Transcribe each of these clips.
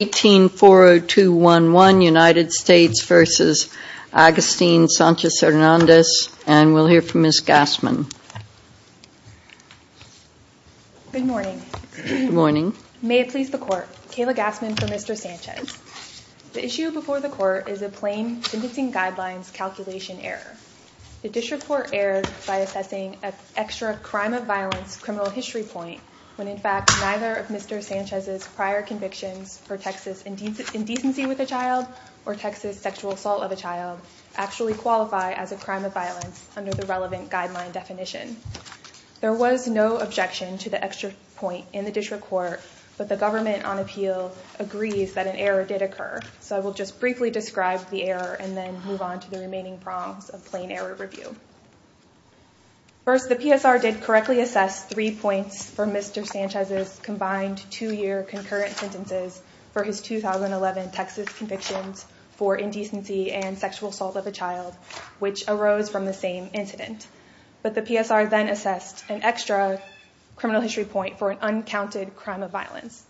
and we'll hear from Ms. Gassman. Good morning. May it please the Court. Kayla Gassman for Mr. Sanchez. The issue before the Court is a plain sentencing guidelines calculation error. The District Court erred by assessing an extra crime of violence criminal history point when in fact neither of Mr. Sanchez's prior convictions for Texas indecency with a child or Texas sexual assault of a child actually qualify as a crime of violence under the relevant guideline definition. There was no objection to the extra point in the District Court, but the government on appeal agrees that an error did occur. So I will just briefly describe the error and then move on to the remaining prongs of plain error review. First, the PSR did correctly assess three points for Mr. Sanchez's combined two-year concurrent sentences for his 2011 Texas convictions for indecency and sexual assault of a child, which arose from the same incident. But the PSR then assessed an extra criminal history point for an uncounted crime of violence.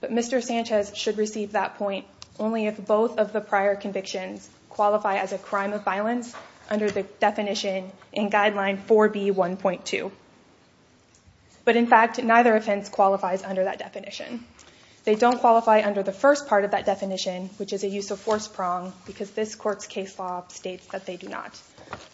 But Mr. Sanchez should receive that point only if both of the prior convictions qualify as a crime of violence under the definition in guideline 4B1.2. But in fact, neither offense qualifies under that definition. They don't qualify under the first part of that definition, which is a use of force prong because this court's case law states that they do not.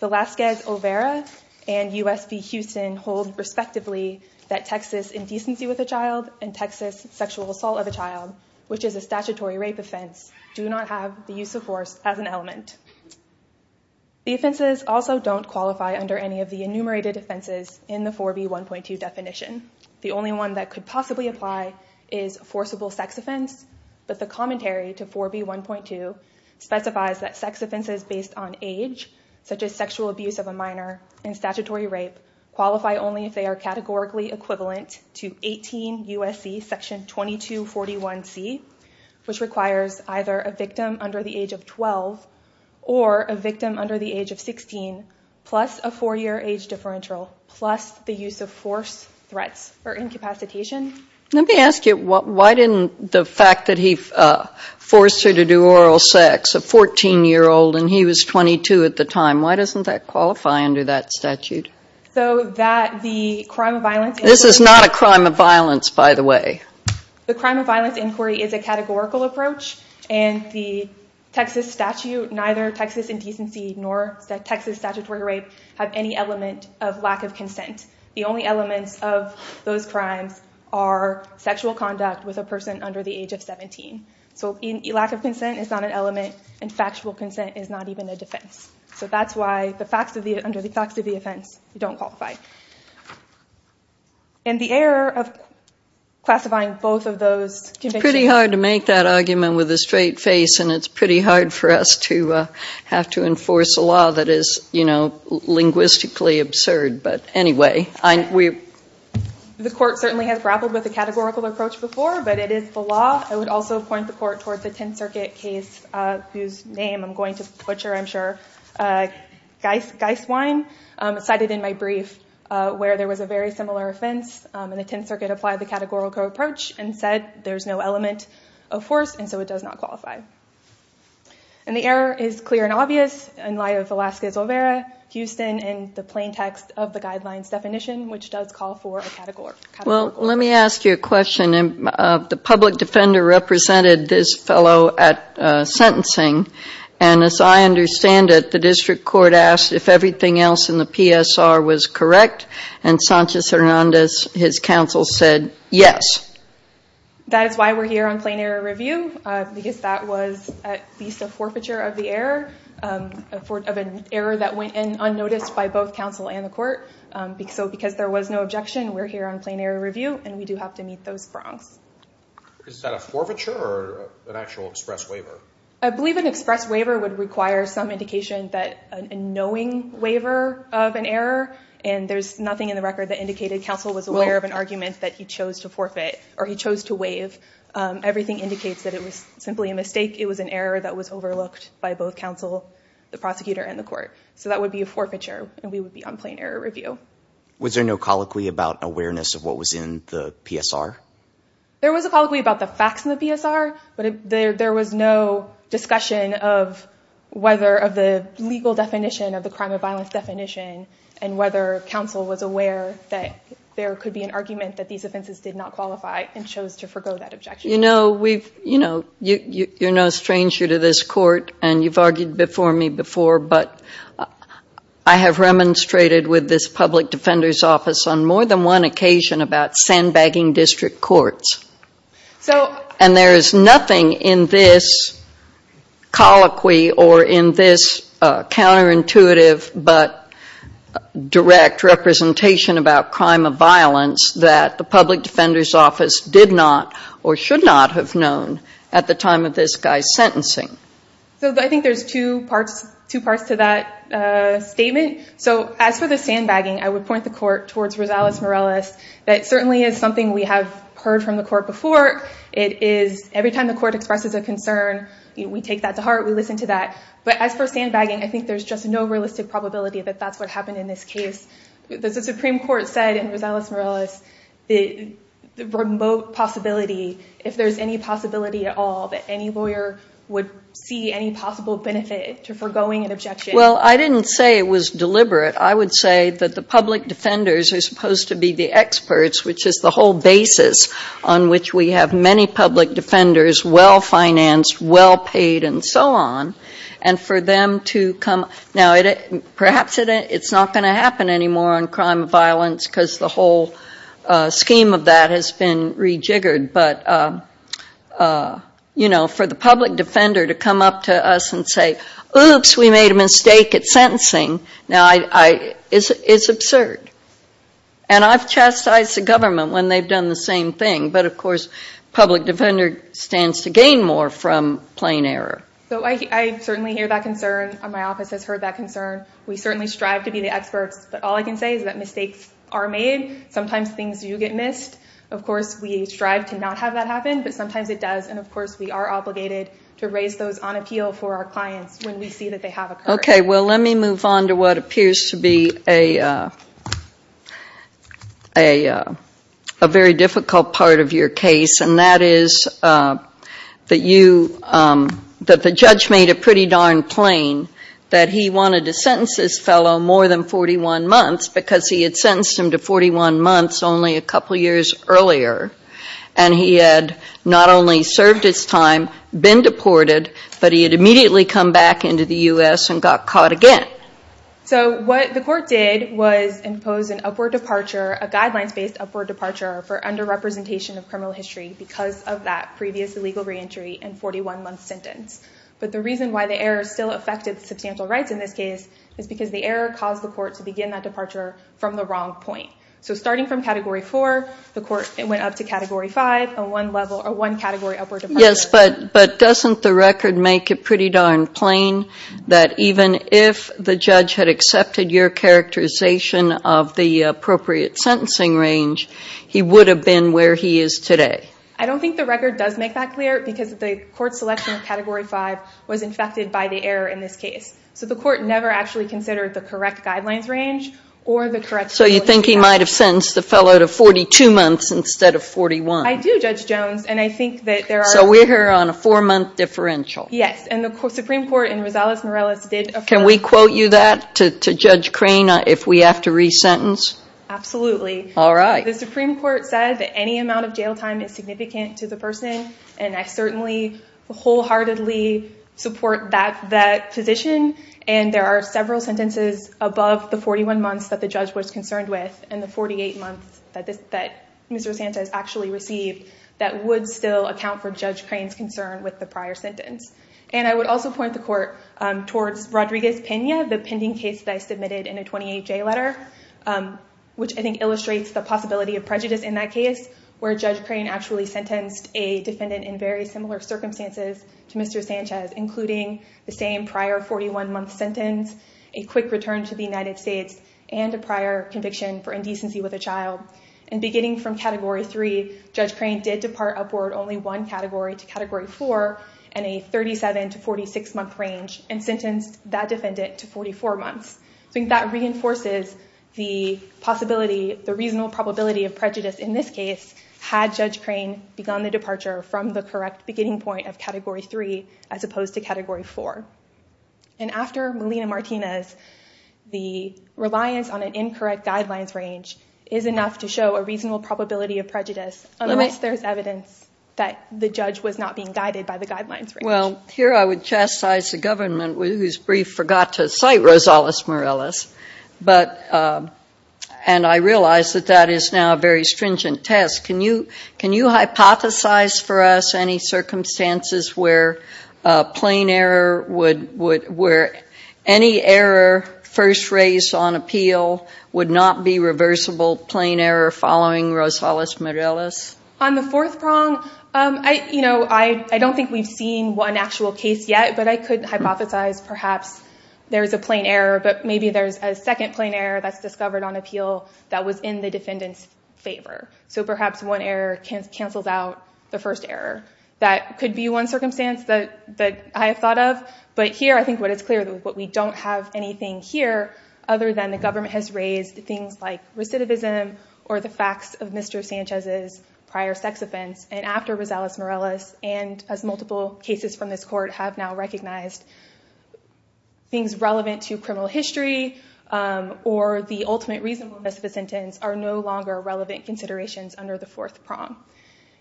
The Laskez-O'Vera and US v. Houston hold respectively that Texas indecency with a child and Texas sexual assault of a child, which is a statutory rape offense, do not have the use of force as an element. The offenses also don't qualify under any of the enumerated offenses in the 4B1.2 definition. The only one that could possibly apply is forcible sex offense. But the commentary to 4B1.2 specifies that sex offenses based on age, such as sexual abuse of a minor and statutory rape, qualify only if they are categorically equivalent to 18 U.S.C. section 2241C, which requires either a victim under the age of 12 or a victim under the age of 16, plus a four-year age differential, plus the use of force, threats, or incapacitation. Let me ask you, why didn't the fact that he forced her to do oral sex, a 14-year-old, and he was 22 at the time, why doesn't that qualify under that statute? So that the crime of violence... This is not a crime of violence, by the way. The crime of violence inquiry is a categorical approach, and the Texas statute, neither Texas indecency nor Texas statutory rape have any element of lack of consent. The only elements of those crimes are sexual conduct with a person under the age of 17. So lack of consent is not an element, and factual consent is not even a defense. So that's why under the facts of the offense, you don't qualify. And the error of classifying both of those... It's pretty hard to make that argument with a straight face, and it's pretty hard for us to have to enforce a law that is linguistically absurd. But anyway, we... The court certainly has grappled with the categorical approach before, but it is the law. I would also point the court toward the Tenth Circuit case whose name I'm going to butcher, I'm sure. Geiswein cited in my brief where there was a very similar offense, and the Tenth Circuit applied the categorical approach and said there's no element of force, and so it does not qualify. And the error is clear and obvious in light of Velasquez-Olvera, Houston, and the plain text of the guidelines definition, which does call for a categorical approach. Well, let me ask you a question. The public defender represented this fellow at sentencing, and as I understand it, the district court asked if everything else in the PSR was correct, and Sanchez-Hernandez, his counsel, said yes. That is why we're here on plain error review, because that was at least a forfeiture of the error, of an error that went unnoticed by both counsel and the court. So because there was no objection, we're here on plain error review, and we do have to meet those fronts. Is that a forfeiture or an actual express waiver? I believe an express waiver would require some indication that a knowing waiver of an error, and there's nothing in the record that indicated counsel was aware of an argument that he chose to forfeit, or he chose to waive. Everything indicates that it was simply a mistake. It was an error that was overlooked by both counsel, the prosecutor, and the court. So that would be a forfeiture, and we would be on plain error review. Was there no colloquy about awareness of what was in the PSR? There was a colloquy about the facts in the PSR, but there was no discussion of whether the legal definition of the crime of violence definition and whether counsel was aware that there could be an argument that these offenses did not qualify and chose to forego that objection. You know, you're no stranger to this court, and you've argued before me before, but I have remonstrated with this public defender's office on more than one occasion about sandbagging district courts. And there is nothing in this colloquy or in this counterintuitive but direct representation about crime of violence that the public defender's office did not or should not have known at the time of this guy's sentencing. So I think there's two parts to that statement. So as for the sandbagging, I would point the court towards Rosales-Morales. That certainly is something we have heard from the court before. It is every time the court expresses a concern, we take that to heart. We listen to that. But as for sandbagging, I think there's just no realistic probability that that's what happened in this case. The Supreme Court said in Rosales-Morales the remote possibility, if there's any possibility at all that any lawyer would see any possible benefit to foregoing an objection. Well, I didn't say it was deliberate. I would say that the public defenders are supposed to be the experts, which is the whole basis on which we have many public defenders, well-financed, well-paid, and so on. And for them to come. Now, perhaps it's not going to happen anymore on crime of violence because the whole scheme of that has been rejiggered. But, you know, for the public defender to come up to us and say, oops, we made a mistake at sentencing. Now, it's absurd. And I've chastised the government when they've done the same thing. But, of course, public defender stands to gain more from plain error. So I certainly hear that concern. My office has heard that concern. We certainly strive to be the experts. But all I can say is that mistakes are made. Sometimes things do get missed. Of course, we strive to not have that happen. But sometimes it does. And, of course, we are obligated to raise those on appeal for our clients when we see that they have occurred. Okay. Well, let me move on to what appears to be a very difficult part of your case. And that is that you, that the judge made it pretty darn plain that he wanted to sentence this fellow more than 41 months because he had sentenced him to 41 months only a couple years earlier. And he had not only served his time, been deported, but he had immediately come back into the U.S. and got caught again. So what the court did was impose an upward departure, a guidelines-based upward departure for underrepresentation of criminal history because of that previous illegal reentry and 41-month sentence. But the reason why the error still affected substantial rights in this case is because the error caused the court to begin that departure from the wrong point. So starting from Category 4, the court went up to Category 5, a one-level, a one-category upward departure. Yes, but doesn't the record make it pretty darn plain that even if the judge had accepted your characterization of the appropriate sentencing range, he would have been where he is today? I don't think the record does make that clear because the court's selection of Category 5 was infected by the error in this case. So the court never actually considered the correct guidelines range or the correct… So you think he might have sentenced the fellow to 42 months instead of 41? I do, Judge Jones, and I think that there are… So we're here on a four-month differential. Yes, and the Supreme Court in Rosales-Morales did… Can we quote you that to Judge Crane if we have to re-sentence? Absolutely. All right. The Supreme Court said that any amount of jail time is significant to the person, and I certainly wholeheartedly support that position. And there are several sentences above the 41 months that the judge was concerned with and the 48 months that Mr. Sanchez actually received that would still account for Judge Crane's concern with the prior sentence. And I would also point the court towards Rodriguez-Pena, the pending case that I submitted in a 28-J letter, which I think illustrates the possibility of prejudice in that case, where Judge Crane actually sentenced a defendant in very similar circumstances to Mr. Sanchez, including the same prior 41-month sentence, a quick return to the United States, and a prior conviction for indecency with a child. And beginning from Category 3, Judge Crane did depart upward only one category to Category 4 in a 37- to 46-month range and sentenced that defendant to 44 months. I think that reinforces the possibility, the reasonable probability of prejudice in this case had Judge Crane begun the departure from the correct beginning point of Category 3 as opposed to Category 4. And after Melina Martinez, the reliance on an incorrect guidelines range is enough to show a reasonable probability of prejudice, unless there's evidence that the judge was not being guided by the guidelines range. Well, here I would chastise the government, whose brief forgot to cite Rosales-Morales. And I realize that that is now a very stringent test. Can you hypothesize for us any circumstances where any error first raised on appeal would not be reversible, plain error following Rosales-Morales? On the fourth prong, I don't think we've seen one actual case yet, but I could hypothesize perhaps there is a plain error, but maybe there's a second plain error that's discovered on appeal that was in the defendant's favor. So perhaps one error cancels out the first error. That could be one circumstance that I have thought of, but here I think what is clear is that we don't have anything here other than the government has raised things like recidivism or the facts of Mr. Sanchez's prior sex offense. And after Rosales-Morales, and as multiple cases from this court have now recognized, things relevant to criminal history or the ultimate reason for the sentence are no longer relevant considerations under the fourth prong.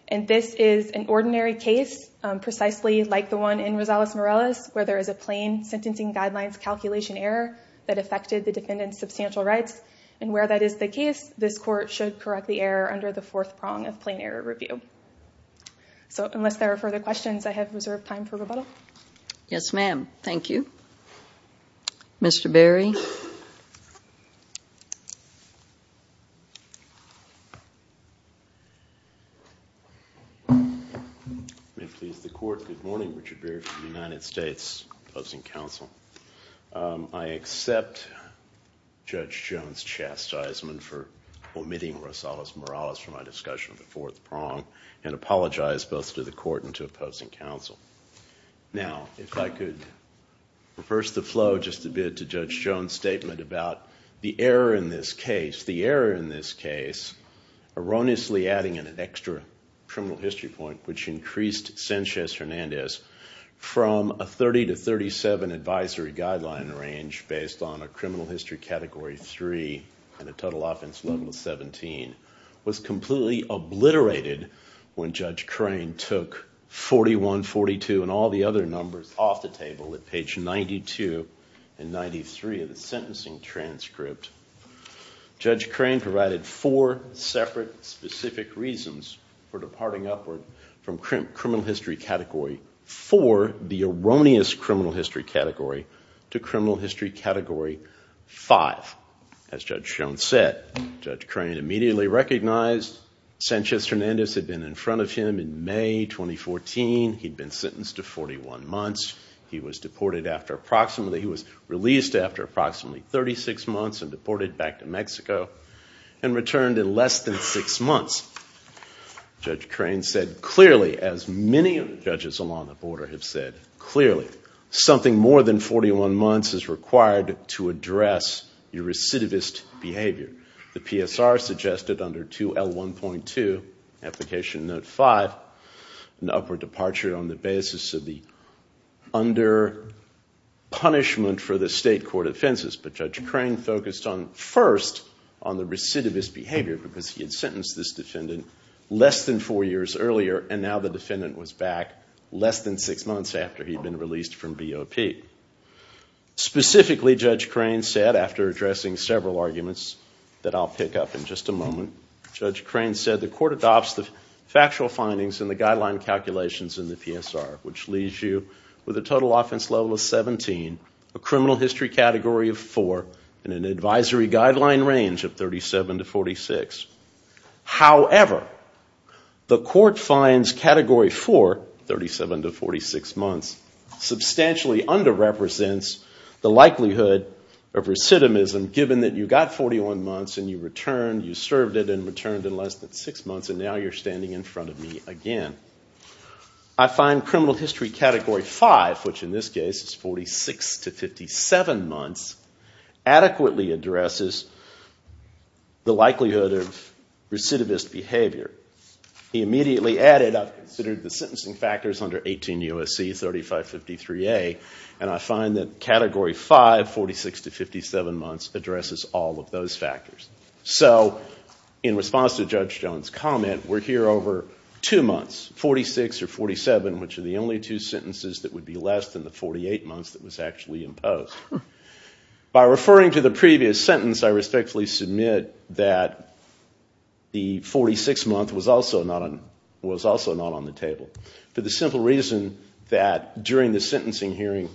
And this is an ordinary case, precisely like the one in Rosales-Morales, where there is a plain sentencing guidelines calculation error that affected the defendant's substantial rights. And where that is the case, this court should correct the error under the fourth prong of plain error review. So unless there are further questions, I have reserved time for rebuttal. Yes, ma'am. Thank you. Mr. Berry? Good morning. May it please the court, good morning. Richard Berry from the United States, opposing counsel. I accept Judge Jones' chastisement for omitting Rosales-Morales from my discussion of the fourth prong and apologize both to the court and to opposing counsel. Now, if I could reverse the flow just a bit to Judge Jones' statement about the error in this case. The error in this case, erroneously adding an extra criminal history point, which increased Sanchez-Hernandez from a 30 to 37 advisory guideline range based on a criminal history category 3 and a total offense level 17, was completely obliterated when Judge Crane took 41, 42, and all the other numbers off the table at page 92 and 93 of the sentencing transcript. Judge Crane provided four separate specific reasons for departing upward from criminal history category 4, the erroneous criminal history category, to criminal history category 5. As Judge Jones said, Judge Crane immediately recognized Sanchez-Hernandez had been in front of him in May 2014. He'd been sentenced to 41 months. He was deported after approximately, he was released after approximately 36 months and deported back to Mexico and returned in less than six months. Judge Crane said clearly, as many judges along the border have said clearly, something more than 41 months is required to address your recidivist behavior. The PSR suggested under 2L1.2, application note 5, an upward departure on the basis of the under-punishment for the state court offenses. But Judge Crane focused on, first, on the recidivist behavior because he had sentenced this defendant less than four years earlier and now the defendant was back less than six months after he'd been released from BOP. Specifically, Judge Crane said, after addressing several arguments that I'll pick up in just a moment, Judge Crane said the court adopts the factual findings in the guideline calculations in the PSR, which leaves you with a total offense level of 17, a criminal history category of 4, and an advisory guideline range of 37 to 46. However, the court finds category 4, 37 to 46 months, substantially under-represents the likelihood of recidivism, given that you got 41 months and you returned, you served it and returned in less than six months and now you're standing in front of me again. I find criminal history category 5, which in this case is 46 to 57 months, adequately addresses the likelihood of recidivist behavior. He immediately added, I've considered the sentencing factors under 18 U.S.C., 3553A, and I find that category 5, 46 to 57 months, addresses all of those factors. So in response to Judge Jones' comment, we're here over two months, 46 or 47, which are the only two sentences that would be less than the 48 months that was actually imposed. By referring to the previous sentence, I respectfully submit that the 46 month was also not on the table, for the simple reason that during the sentencing hearing,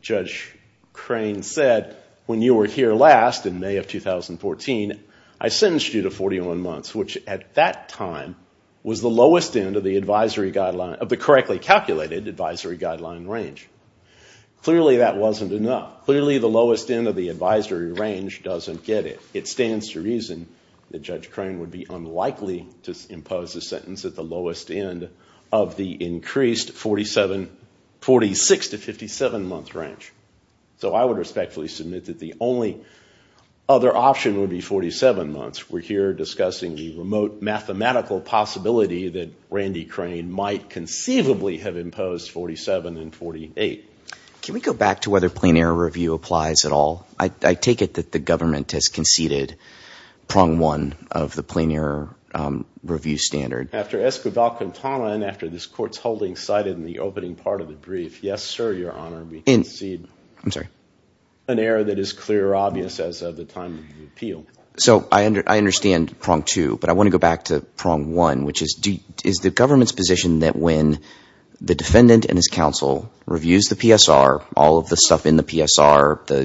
Judge Crane said, when you were here last in May of 2014, I sentenced you to 41 months, which at that time was the lowest end of the correctly calculated advisory guideline range. Clearly that wasn't enough. Clearly the lowest end of the advisory range doesn't get it. It stands to reason that Judge Crane would be unlikely to impose a sentence at the lowest end of the increased 46 to 57 month range. So I would respectfully submit that the only other option would be 47 months. We're here discussing the remote mathematical possibility that Randy Crane might conceivably have imposed 47 and 48. Can we go back to whether plain error review applies at all? I take it that the government has conceded prong one of the plain error review standard. After Esquivel-Quintana and after this Court's holding cited in the opening part of the brief, yes, sir, Your Honor, we concede an error that is clear or obvious as of the time of the appeal. So I understand prong two, but I want to go back to prong one, which is, is the government's position that when the defendant and his counsel reviews the PSR, all of the stuff in the PSR, the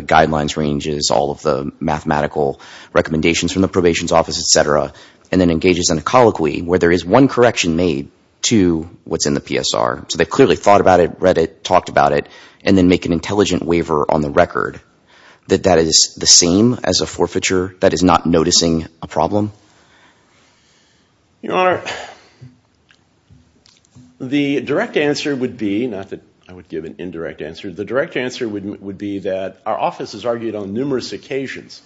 guidelines ranges, all of the mathematical recommendations from the probation's office, etc., and then engages in a colloquy where there is one correction made to what's in the PSR, so they clearly thought about it, read it, talked about it, and then make an intelligent waiver on the record, that that is the same as a forfeiture that is not noticing a problem? Your Honor, the direct answer would be, not that I would give an indirect answer, the direct answer would be that our office has argued on numerous occasions,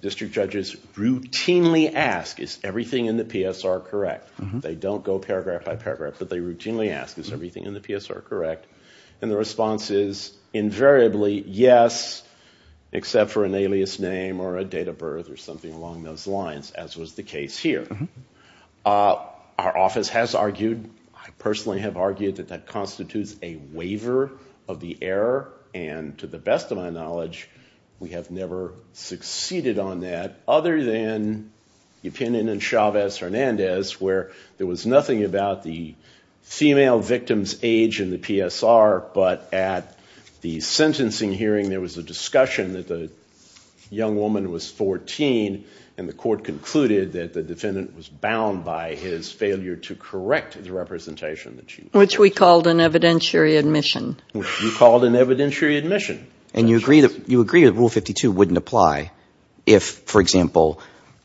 district judges routinely ask, is everything in the PSR correct? They don't go paragraph by paragraph, but they routinely ask, is everything in the PSR correct? And the response is invariably, yes, except for an alias name or a date of birth or something along those lines, as was the case here. Our office has argued, I personally have argued, that that constitutes a waiver of the error, and to the best of my knowledge, we have never succeeded on that, other than the opinion in Chavez-Hernandez, where there was nothing about the female victim's age in the PSR, but at the sentencing hearing there was a discussion that the young woman was 14, and the court concluded that the defendant was bound by his failure to correct the representation. Which we called an evidentiary admission. And you agree that Rule 52 wouldn't apply if, for example,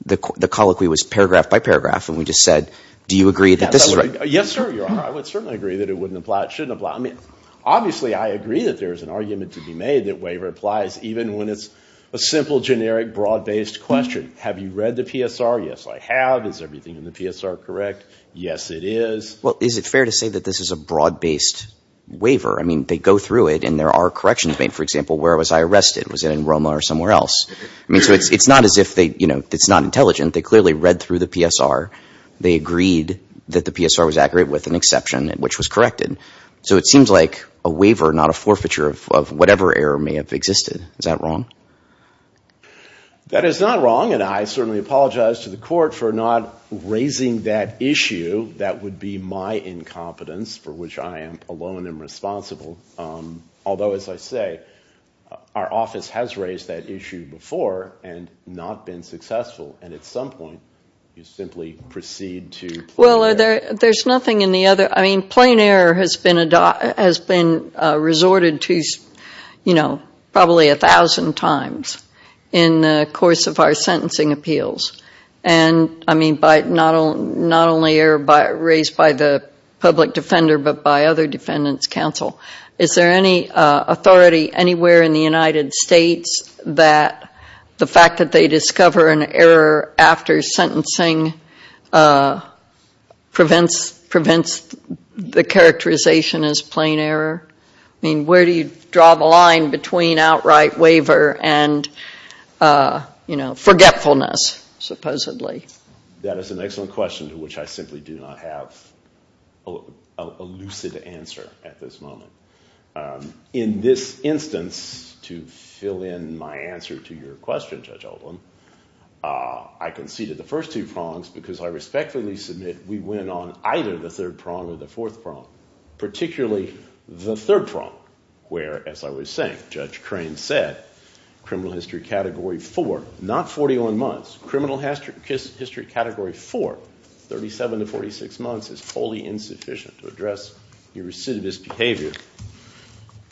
the colloquy was paragraph by paragraph, and we just said, do you agree that this is right? Yes, sir, you are. I would certainly agree that it wouldn't apply, it shouldn't apply. I mean, obviously I agree that there is an argument to be made that waiver applies, even when it's a simple, generic, broad-based question. Have you read the PSR? Yes, I have. Is everything in the PSR correct? Yes, it is. Well, is it fair to say that this is a broad-based waiver? I mean, they go through it, and there are corrections made. For example, where was I arrested? Was it in Roma or somewhere else? I mean, so it's not as if they, you know, it's not intelligent. They clearly read through the PSR. They agreed that the PSR was accurate with an exception, which was corrected. So it seems like a waiver, not a forfeiture of whatever error may have existed. Is that wrong? That is not wrong, and I certainly apologize to the court for not raising that issue. That would be my incompetence, for which I am alone and responsible. Although, as I say, our office has raised that issue before and not been successful. And at some point, you simply proceed to plain error. Well, there's nothing in the other—I mean, plain error has been resorted to, you know, probably a thousand times in the course of our sentencing appeals. And I mean, not only raised by the public defender, but by other defendants' counsel. Is there any authority anywhere in the United States that the fact that they discover an error after sentencing prevents the characterization as plain error? I mean, where do you draw the line between outright waiver and, you know, forgetfulness, supposedly? That is an excellent question, to which I simply do not have a lucid answer at this moment. In this instance, to fill in my answer to your question, Judge Oldham, I conceded the first two prongs because I respectfully submit we went on either the third prong or the fourth prong, particularly the third prong, where, as I was saying, Judge Crane said, criminal history category four, not 41 months, criminal history category four, 37 to 46 months, is wholly insufficient to address your recidivist behavior.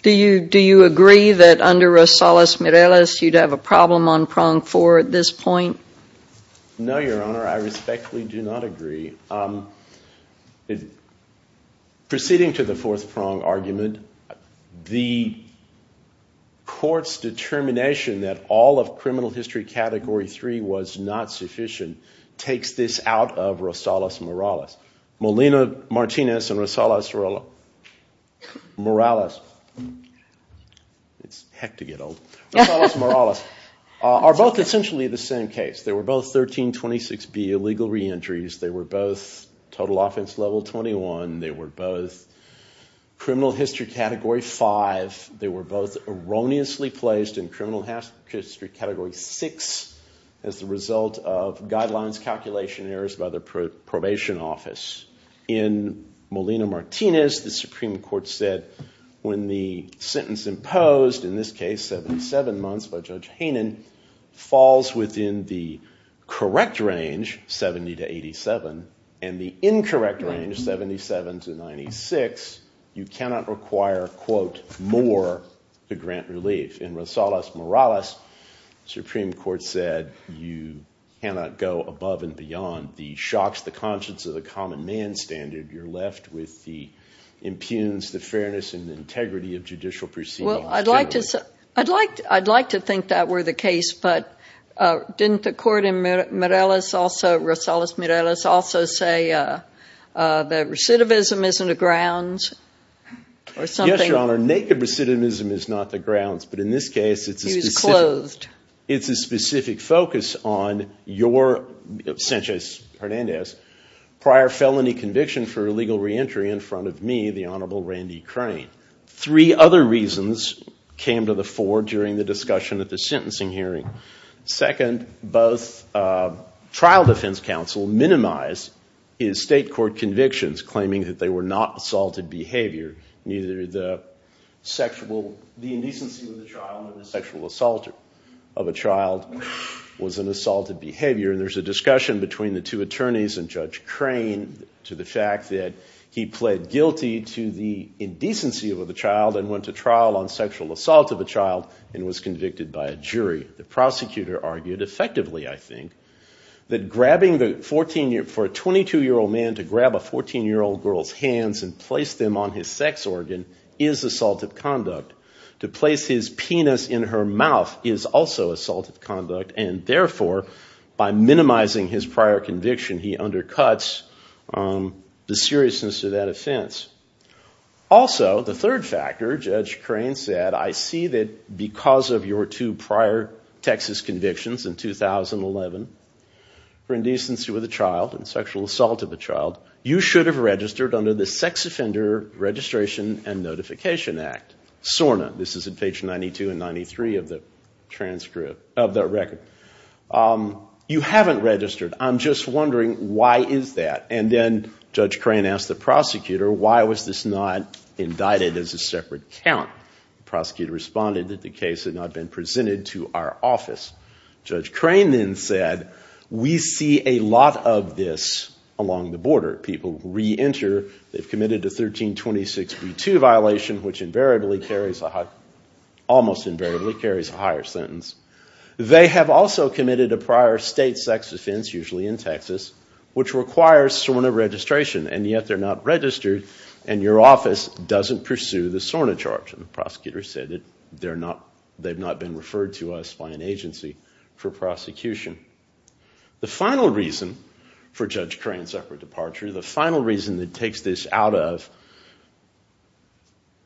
Do you agree that under Rosales-Mireles you'd have a problem on prong four at this point? No, Your Honor, I respectfully do not agree. Proceeding to the fourth prong argument, the court's determination that all of criminal history category three was not sufficient takes this out of Rosales-Mireles. Molina-Martinez and Rosales-Mireles are both essentially the same case. They were both 1326B illegal reentries. They were both total offense level 21. They were both criminal history category five. They were both erroneously placed in criminal history category six as the result of guidelines calculation errors by the probation office. In Molina-Martinez, the Supreme Court said when the sentence imposed, in this case 77 months by Judge Hainan, falls within the correct range, 70 to 87, and the incorrect range, 77 to 96, you cannot require, quote, more to grant relief. In Rosales-Mireles, the Supreme Court said you cannot go above and beyond the shocks, the conscience of the common man standard. You're left with the impugns, the fairness and integrity of judicial proceedings. Well, I'd like to think that were the case, but didn't the court in Rosales-Mireles also say that recidivism isn't a grounds or something? Yes, Your Honor. Naked recidivism is not the grounds, but in this case it's a specific focus on your, Sanchez Hernandez, prior felony conviction for illegal reentry in front of me, the Honorable Randy Crane. Three other reasons came to the fore during the discussion at the sentencing hearing. Second, both trial defense counsel minimized his state court convictions, claiming that they were not assaulted behavior. Neither the sexual, the indecency of the child or the sexual assault of a child was an assaulted behavior. And there's a discussion between the two attorneys and Judge Crane to the fact that he pled guilty to the indecency of the child and went to trial on sexual assault of a child and was convicted by a jury. The prosecutor argued effectively, I think, that grabbing the 14-year, for a 22-year-old man to grab a 14-year-old girl's hands and place them on his sex organ is assaulted conduct. To place his penis in her mouth is also assaulted conduct, and therefore, by minimizing his prior conviction, he undercuts the seriousness of that offense. Also, the third factor, Judge Crane said, I see that because of your two prior Texas convictions in 2011, for indecency with a child and sexual assault of a child, you should have registered under the Sex Offender Registration and Notification Act. SORNA, this is in page 92 and 93 of that record. You haven't registered. I'm just wondering, why is that? And then Judge Crane asked the prosecutor, why was this not indicted as a separate count? The prosecutor responded that the case had not been presented to our office. Judge Crane then said, we see a lot of this along the border. People re-enter, they've committed a 1326b2 violation, which invariably carries a higher, almost invariably carries a higher sentence. They have also committed a prior state sex offense, usually in Texas, which requires SORNA registration. And yet, they're not registered, and your office doesn't pursue the SORNA charge. And the prosecutor said that they've not been referred to us by an agency for prosecution. The final reason for Judge Crane's separate departure, the final reason that takes this out of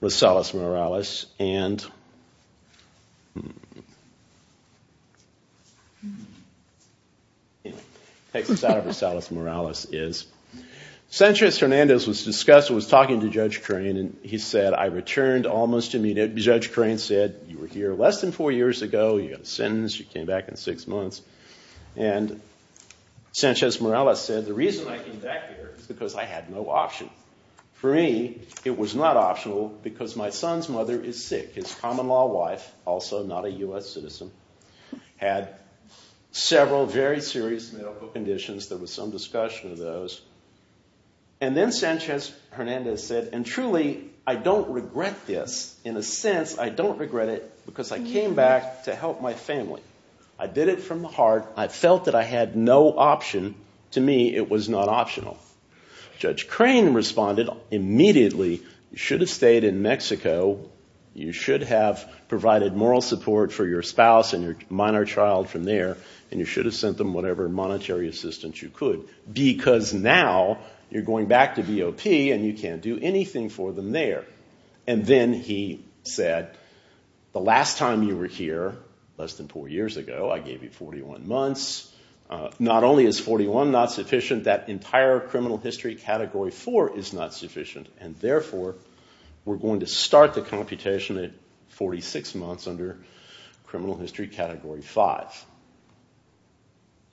Rosales-Morales is, Sanchez-Hernandez was talking to Judge Crane, and he said, I returned almost immediately. Judge Crane said, you were here less than four years ago, you got a sentence, you came back in six months. And Sanchez-Morales said, the reason I came back here is because I had no option. For me, it was not optional, because my son's mother is sick. His common-law wife, also not a US citizen, had several very serious medical conditions. There was some discussion of those. And then Sanchez-Hernandez said, and truly, I don't regret this. In a sense, I don't regret it, because I came back to help my family. I did it from the heart. I felt that I had no option. To me, it was not optional. Judge Crane responded immediately, you should have stayed in Mexico. You should have provided moral support for your spouse and your minor child from there. And you should have sent them whatever monetary assistance you could. Because now, you're going back to BOP, and you can't do anything for them there. And then he said, the last time you were here, less than four years ago, I gave you 41 months. Not only is 41 not sufficient, that entire criminal history category 4 is not sufficient. And therefore, we're going to start the computation at 46 months under criminal history category 5.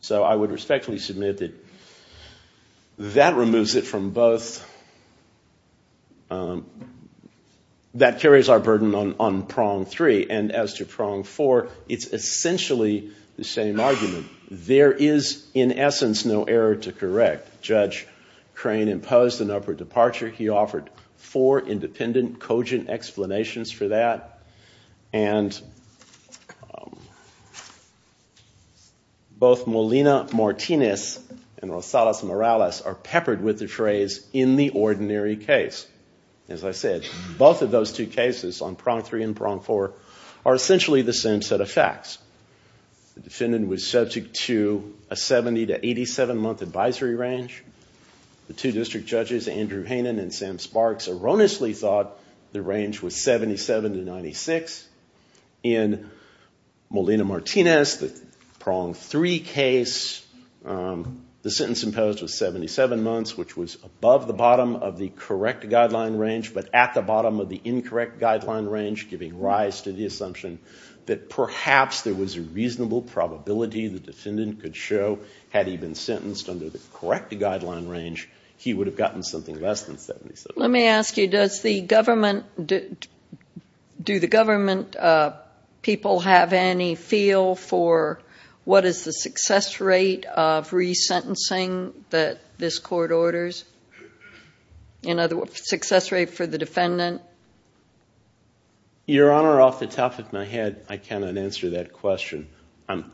So I would respectfully submit that that removes it from both. That carries our burden on prong 3, and as to prong 4, it's essentially the same argument. There is, in essence, no error to correct. Judge Crane imposed an upward departure. He offered four independent, cogent explanations for that. Both Molina-Martinez and Rosales-Morales are peppered with the phrase, in the ordinary case. As I said, both of those two cases, on prong 3 and prong 4, are essentially the same set of facts. The defendant was subject to a 70- to 87-month advisory range. The two district judges, Andrew Hainan and Sam Sparks, erroneously thought the range was 77 to 96. In Molina-Martinez, the prong 3 case, the sentence imposed was 77 months, which was above the bottom of the correct guideline range, but at the bottom of the incorrect guideline range, giving rise to the assumption that perhaps there was a reasonable probability the defendant could show, had he been sentenced under the correct guideline range, he would have gotten something less than 77. Let me ask you, do the government people have any feel for what is the success rate of resentencing that this court orders? In other words, success rate for the defendant? Your Honor, off the top of my head, I cannot answer that question. I'm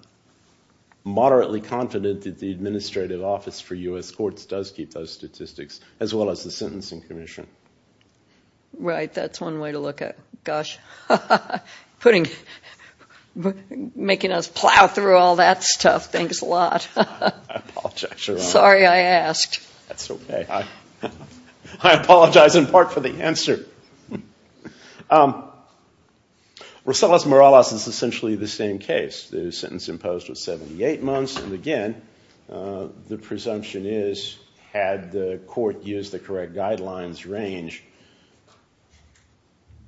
moderately confident that the Administrative Office for U.S. Courts does keep those statistics, as well as the Sentencing Commission. Right. That's one way to look at it. Gosh. Making us plow through all that stuff. Thanks a lot. I apologize, Your Honor. Sorry I asked. That's okay. I apologize in part for the answer. Rosales-Morales is essentially the same case. The sentence imposed was 78 months. And again, the presumption is, had the court used the correct guidelines range,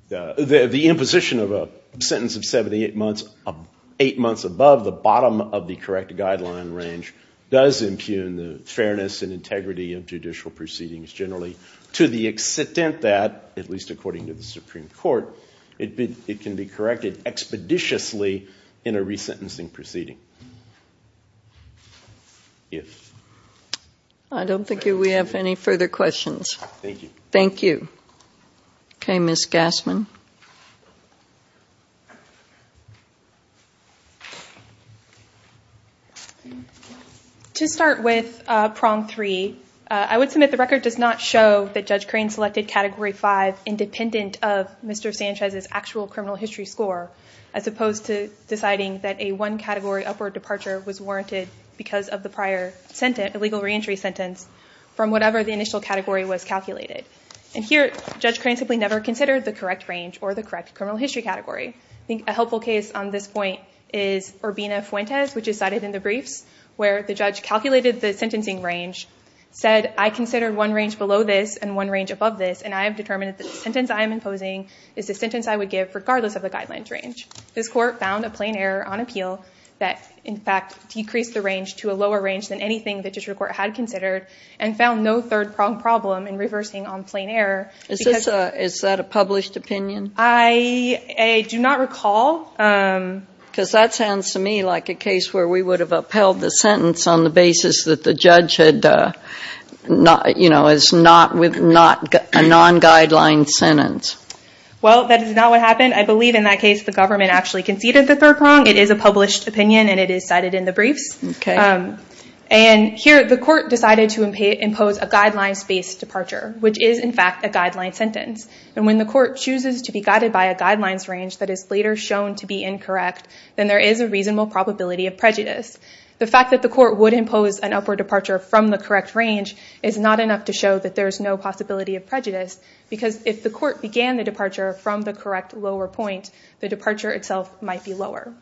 the imposition of a sentence of 78 months, 8 months above the bottom of the correct guideline range, does impugn the fairness and integrity of judicial proceedings generally, to the extent that, at least according to the Supreme Court, it can be corrected expeditiously in a resentencing proceeding. I don't think we have any further questions. Thank you. To start with Prong 3, I would submit the record does not show that Judge Crane selected Category 5 independent of Mr. Sanchez's actual criminal history score, as opposed to deciding that a one-category upward departure was warranted because of the prior legal reentry sentence from whatever the initial category was calculated. And here, Judge Crane simply never considered the correct range or the correct criminal history category. I think a helpful case on this point is Urbina-Fuentes, which is cited in the briefs, where the judge calculated the sentencing range, said, I considered one range below this and one range above this, and I have determined that the sentence I am imposing is the sentence I would give regardless of the guidelines range. This court found a plain error on appeal that, in fact, decreased the range to a lower range than anything the district court had considered and found no third prong problem in reversing on plain error. Is that a published opinion? I do not recall. Because that sounds to me like a case where we would have upheld the sentence on the basis that the judge had, you know, is not a non-guideline sentence. Well, that is not what happened. I believe in that case the government actually conceded the third prong. It is a published opinion, and it is cited in the briefs. And here, the court decided to impose a guidelines-based departure, which is, in fact, a guideline sentence. And when the court chooses to be guided by a guidelines range that is later shown to be incorrect, then there is a reasonable probability of prejudice. The fact that the court would impose an upward departure from the correct range is not enough to show that there is no possibility of prejudice, because if the court began the departure from the correct lower point, the departure itself might be lower.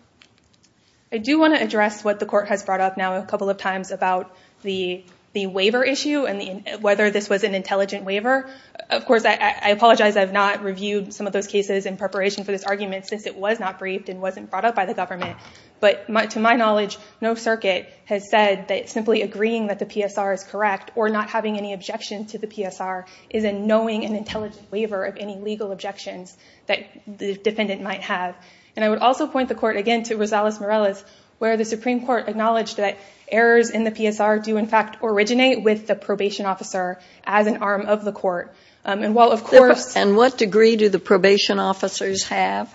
I do want to address what the court has brought up now a couple of times about the waiver issue and whether this was an intelligent waiver. Of course, I apologize I have not reviewed some of those cases in preparation for this argument since it was not briefed and wasn't brought up by the government. But to my knowledge, no circuit has said that simply agreeing that the PSR is correct or not having any objection to the PSR is a knowing and intelligent waiver of any legal objections that the defendant might have. And I would also point the court again to Rosales-Morales, where the Supreme Court acknowledged that errors in the PSR do, in fact, originate with the probation officer as an arm of the court. And what degree do the probation officers have?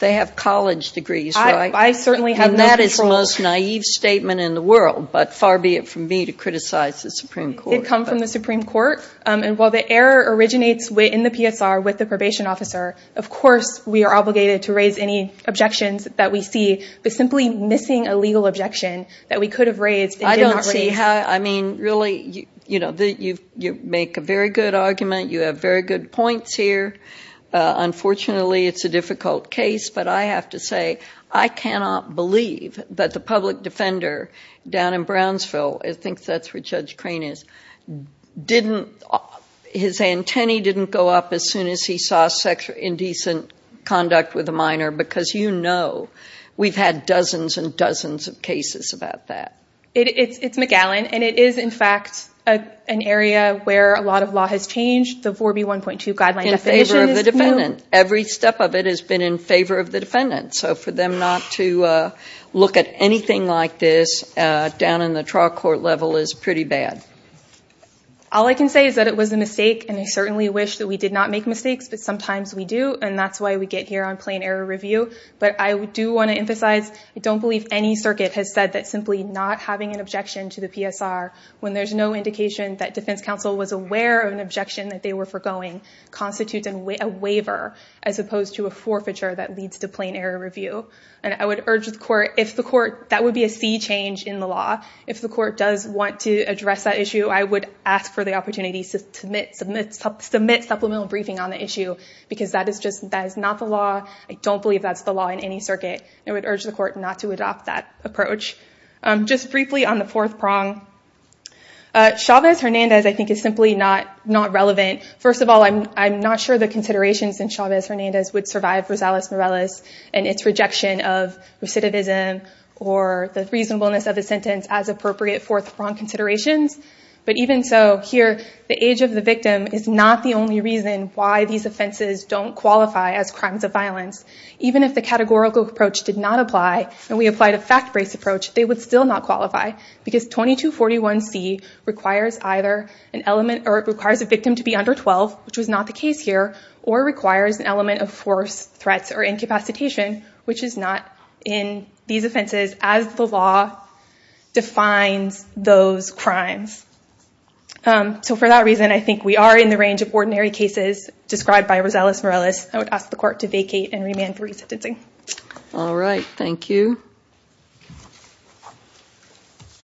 They have college degrees, right? And that is the most naive statement in the world, but far be it from me to criticize the Supreme Court. It comes from the Supreme Court. And while the error originates in the PSR with the probation officer, of course we are obligated to raise any objections that we see. But simply missing a legal objection that we could have raised and did not raise... I don't see how... I mean, really, you make a very good argument. You have very good points here. Unfortunately, it's a difficult case, but I have to say I cannot believe that the public defender down in Brownsville, I think that's where Judge Crane is, didn't... his antennae didn't go up as soon as he saw sexual indecent conduct with a minor, because you know we've had dozens and dozens of cases about that. It's McGowan, and it is, in fact, an area where a lot of law has changed. The 4B1.2 guideline definition is new. In favor of the defendant. Every step of it has been in favor of the defendant. So for them not to look at anything like this down in the trial court level is pretty bad. All I can say is that it was a mistake, and I certainly wish that we did not make mistakes, but sometimes we do, and that's why we get here on plain error review. But I do want to emphasize, I don't believe any circuit has said that simply not having an objection to the PSR when there's no indication that defense counsel was aware of an objection that they were foregoing constitutes a waiver as opposed to a forfeiture that leads to plain error review. And I would urge the court, if the court... that would be a sea change in the law. If the court does want to address that issue, I would ask for the opportunity to submit supplemental briefing on the issue, because that is just... that is not the law. I don't believe that's the law in any circuit. I would urge the court not to adopt that approach. Just briefly on the fourth prong, Chavez-Hernandez I think is simply not relevant. First of all, I'm not sure the considerations in Chavez-Hernandez would survive Rosales-Morales and its rejection of recidivism or the reasonableness of the sentence as appropriate fourth prong considerations. But even so, here, the age of the victim is not the only reason why these offenses don't qualify as crimes of violence. Even if the categorical approach did not apply and we applied a fact-based approach, they would still not qualify, because 2241C requires either an element... or it requires a victim to be under 12, which was not the case here, or requires an element of force, threats, or incapacitation, which is not in these offenses as the law defines those crimes. So for that reason, I think we are in the range of ordinary cases described by Rosales-Morales. I would ask the court to vacate and remand for resentencing.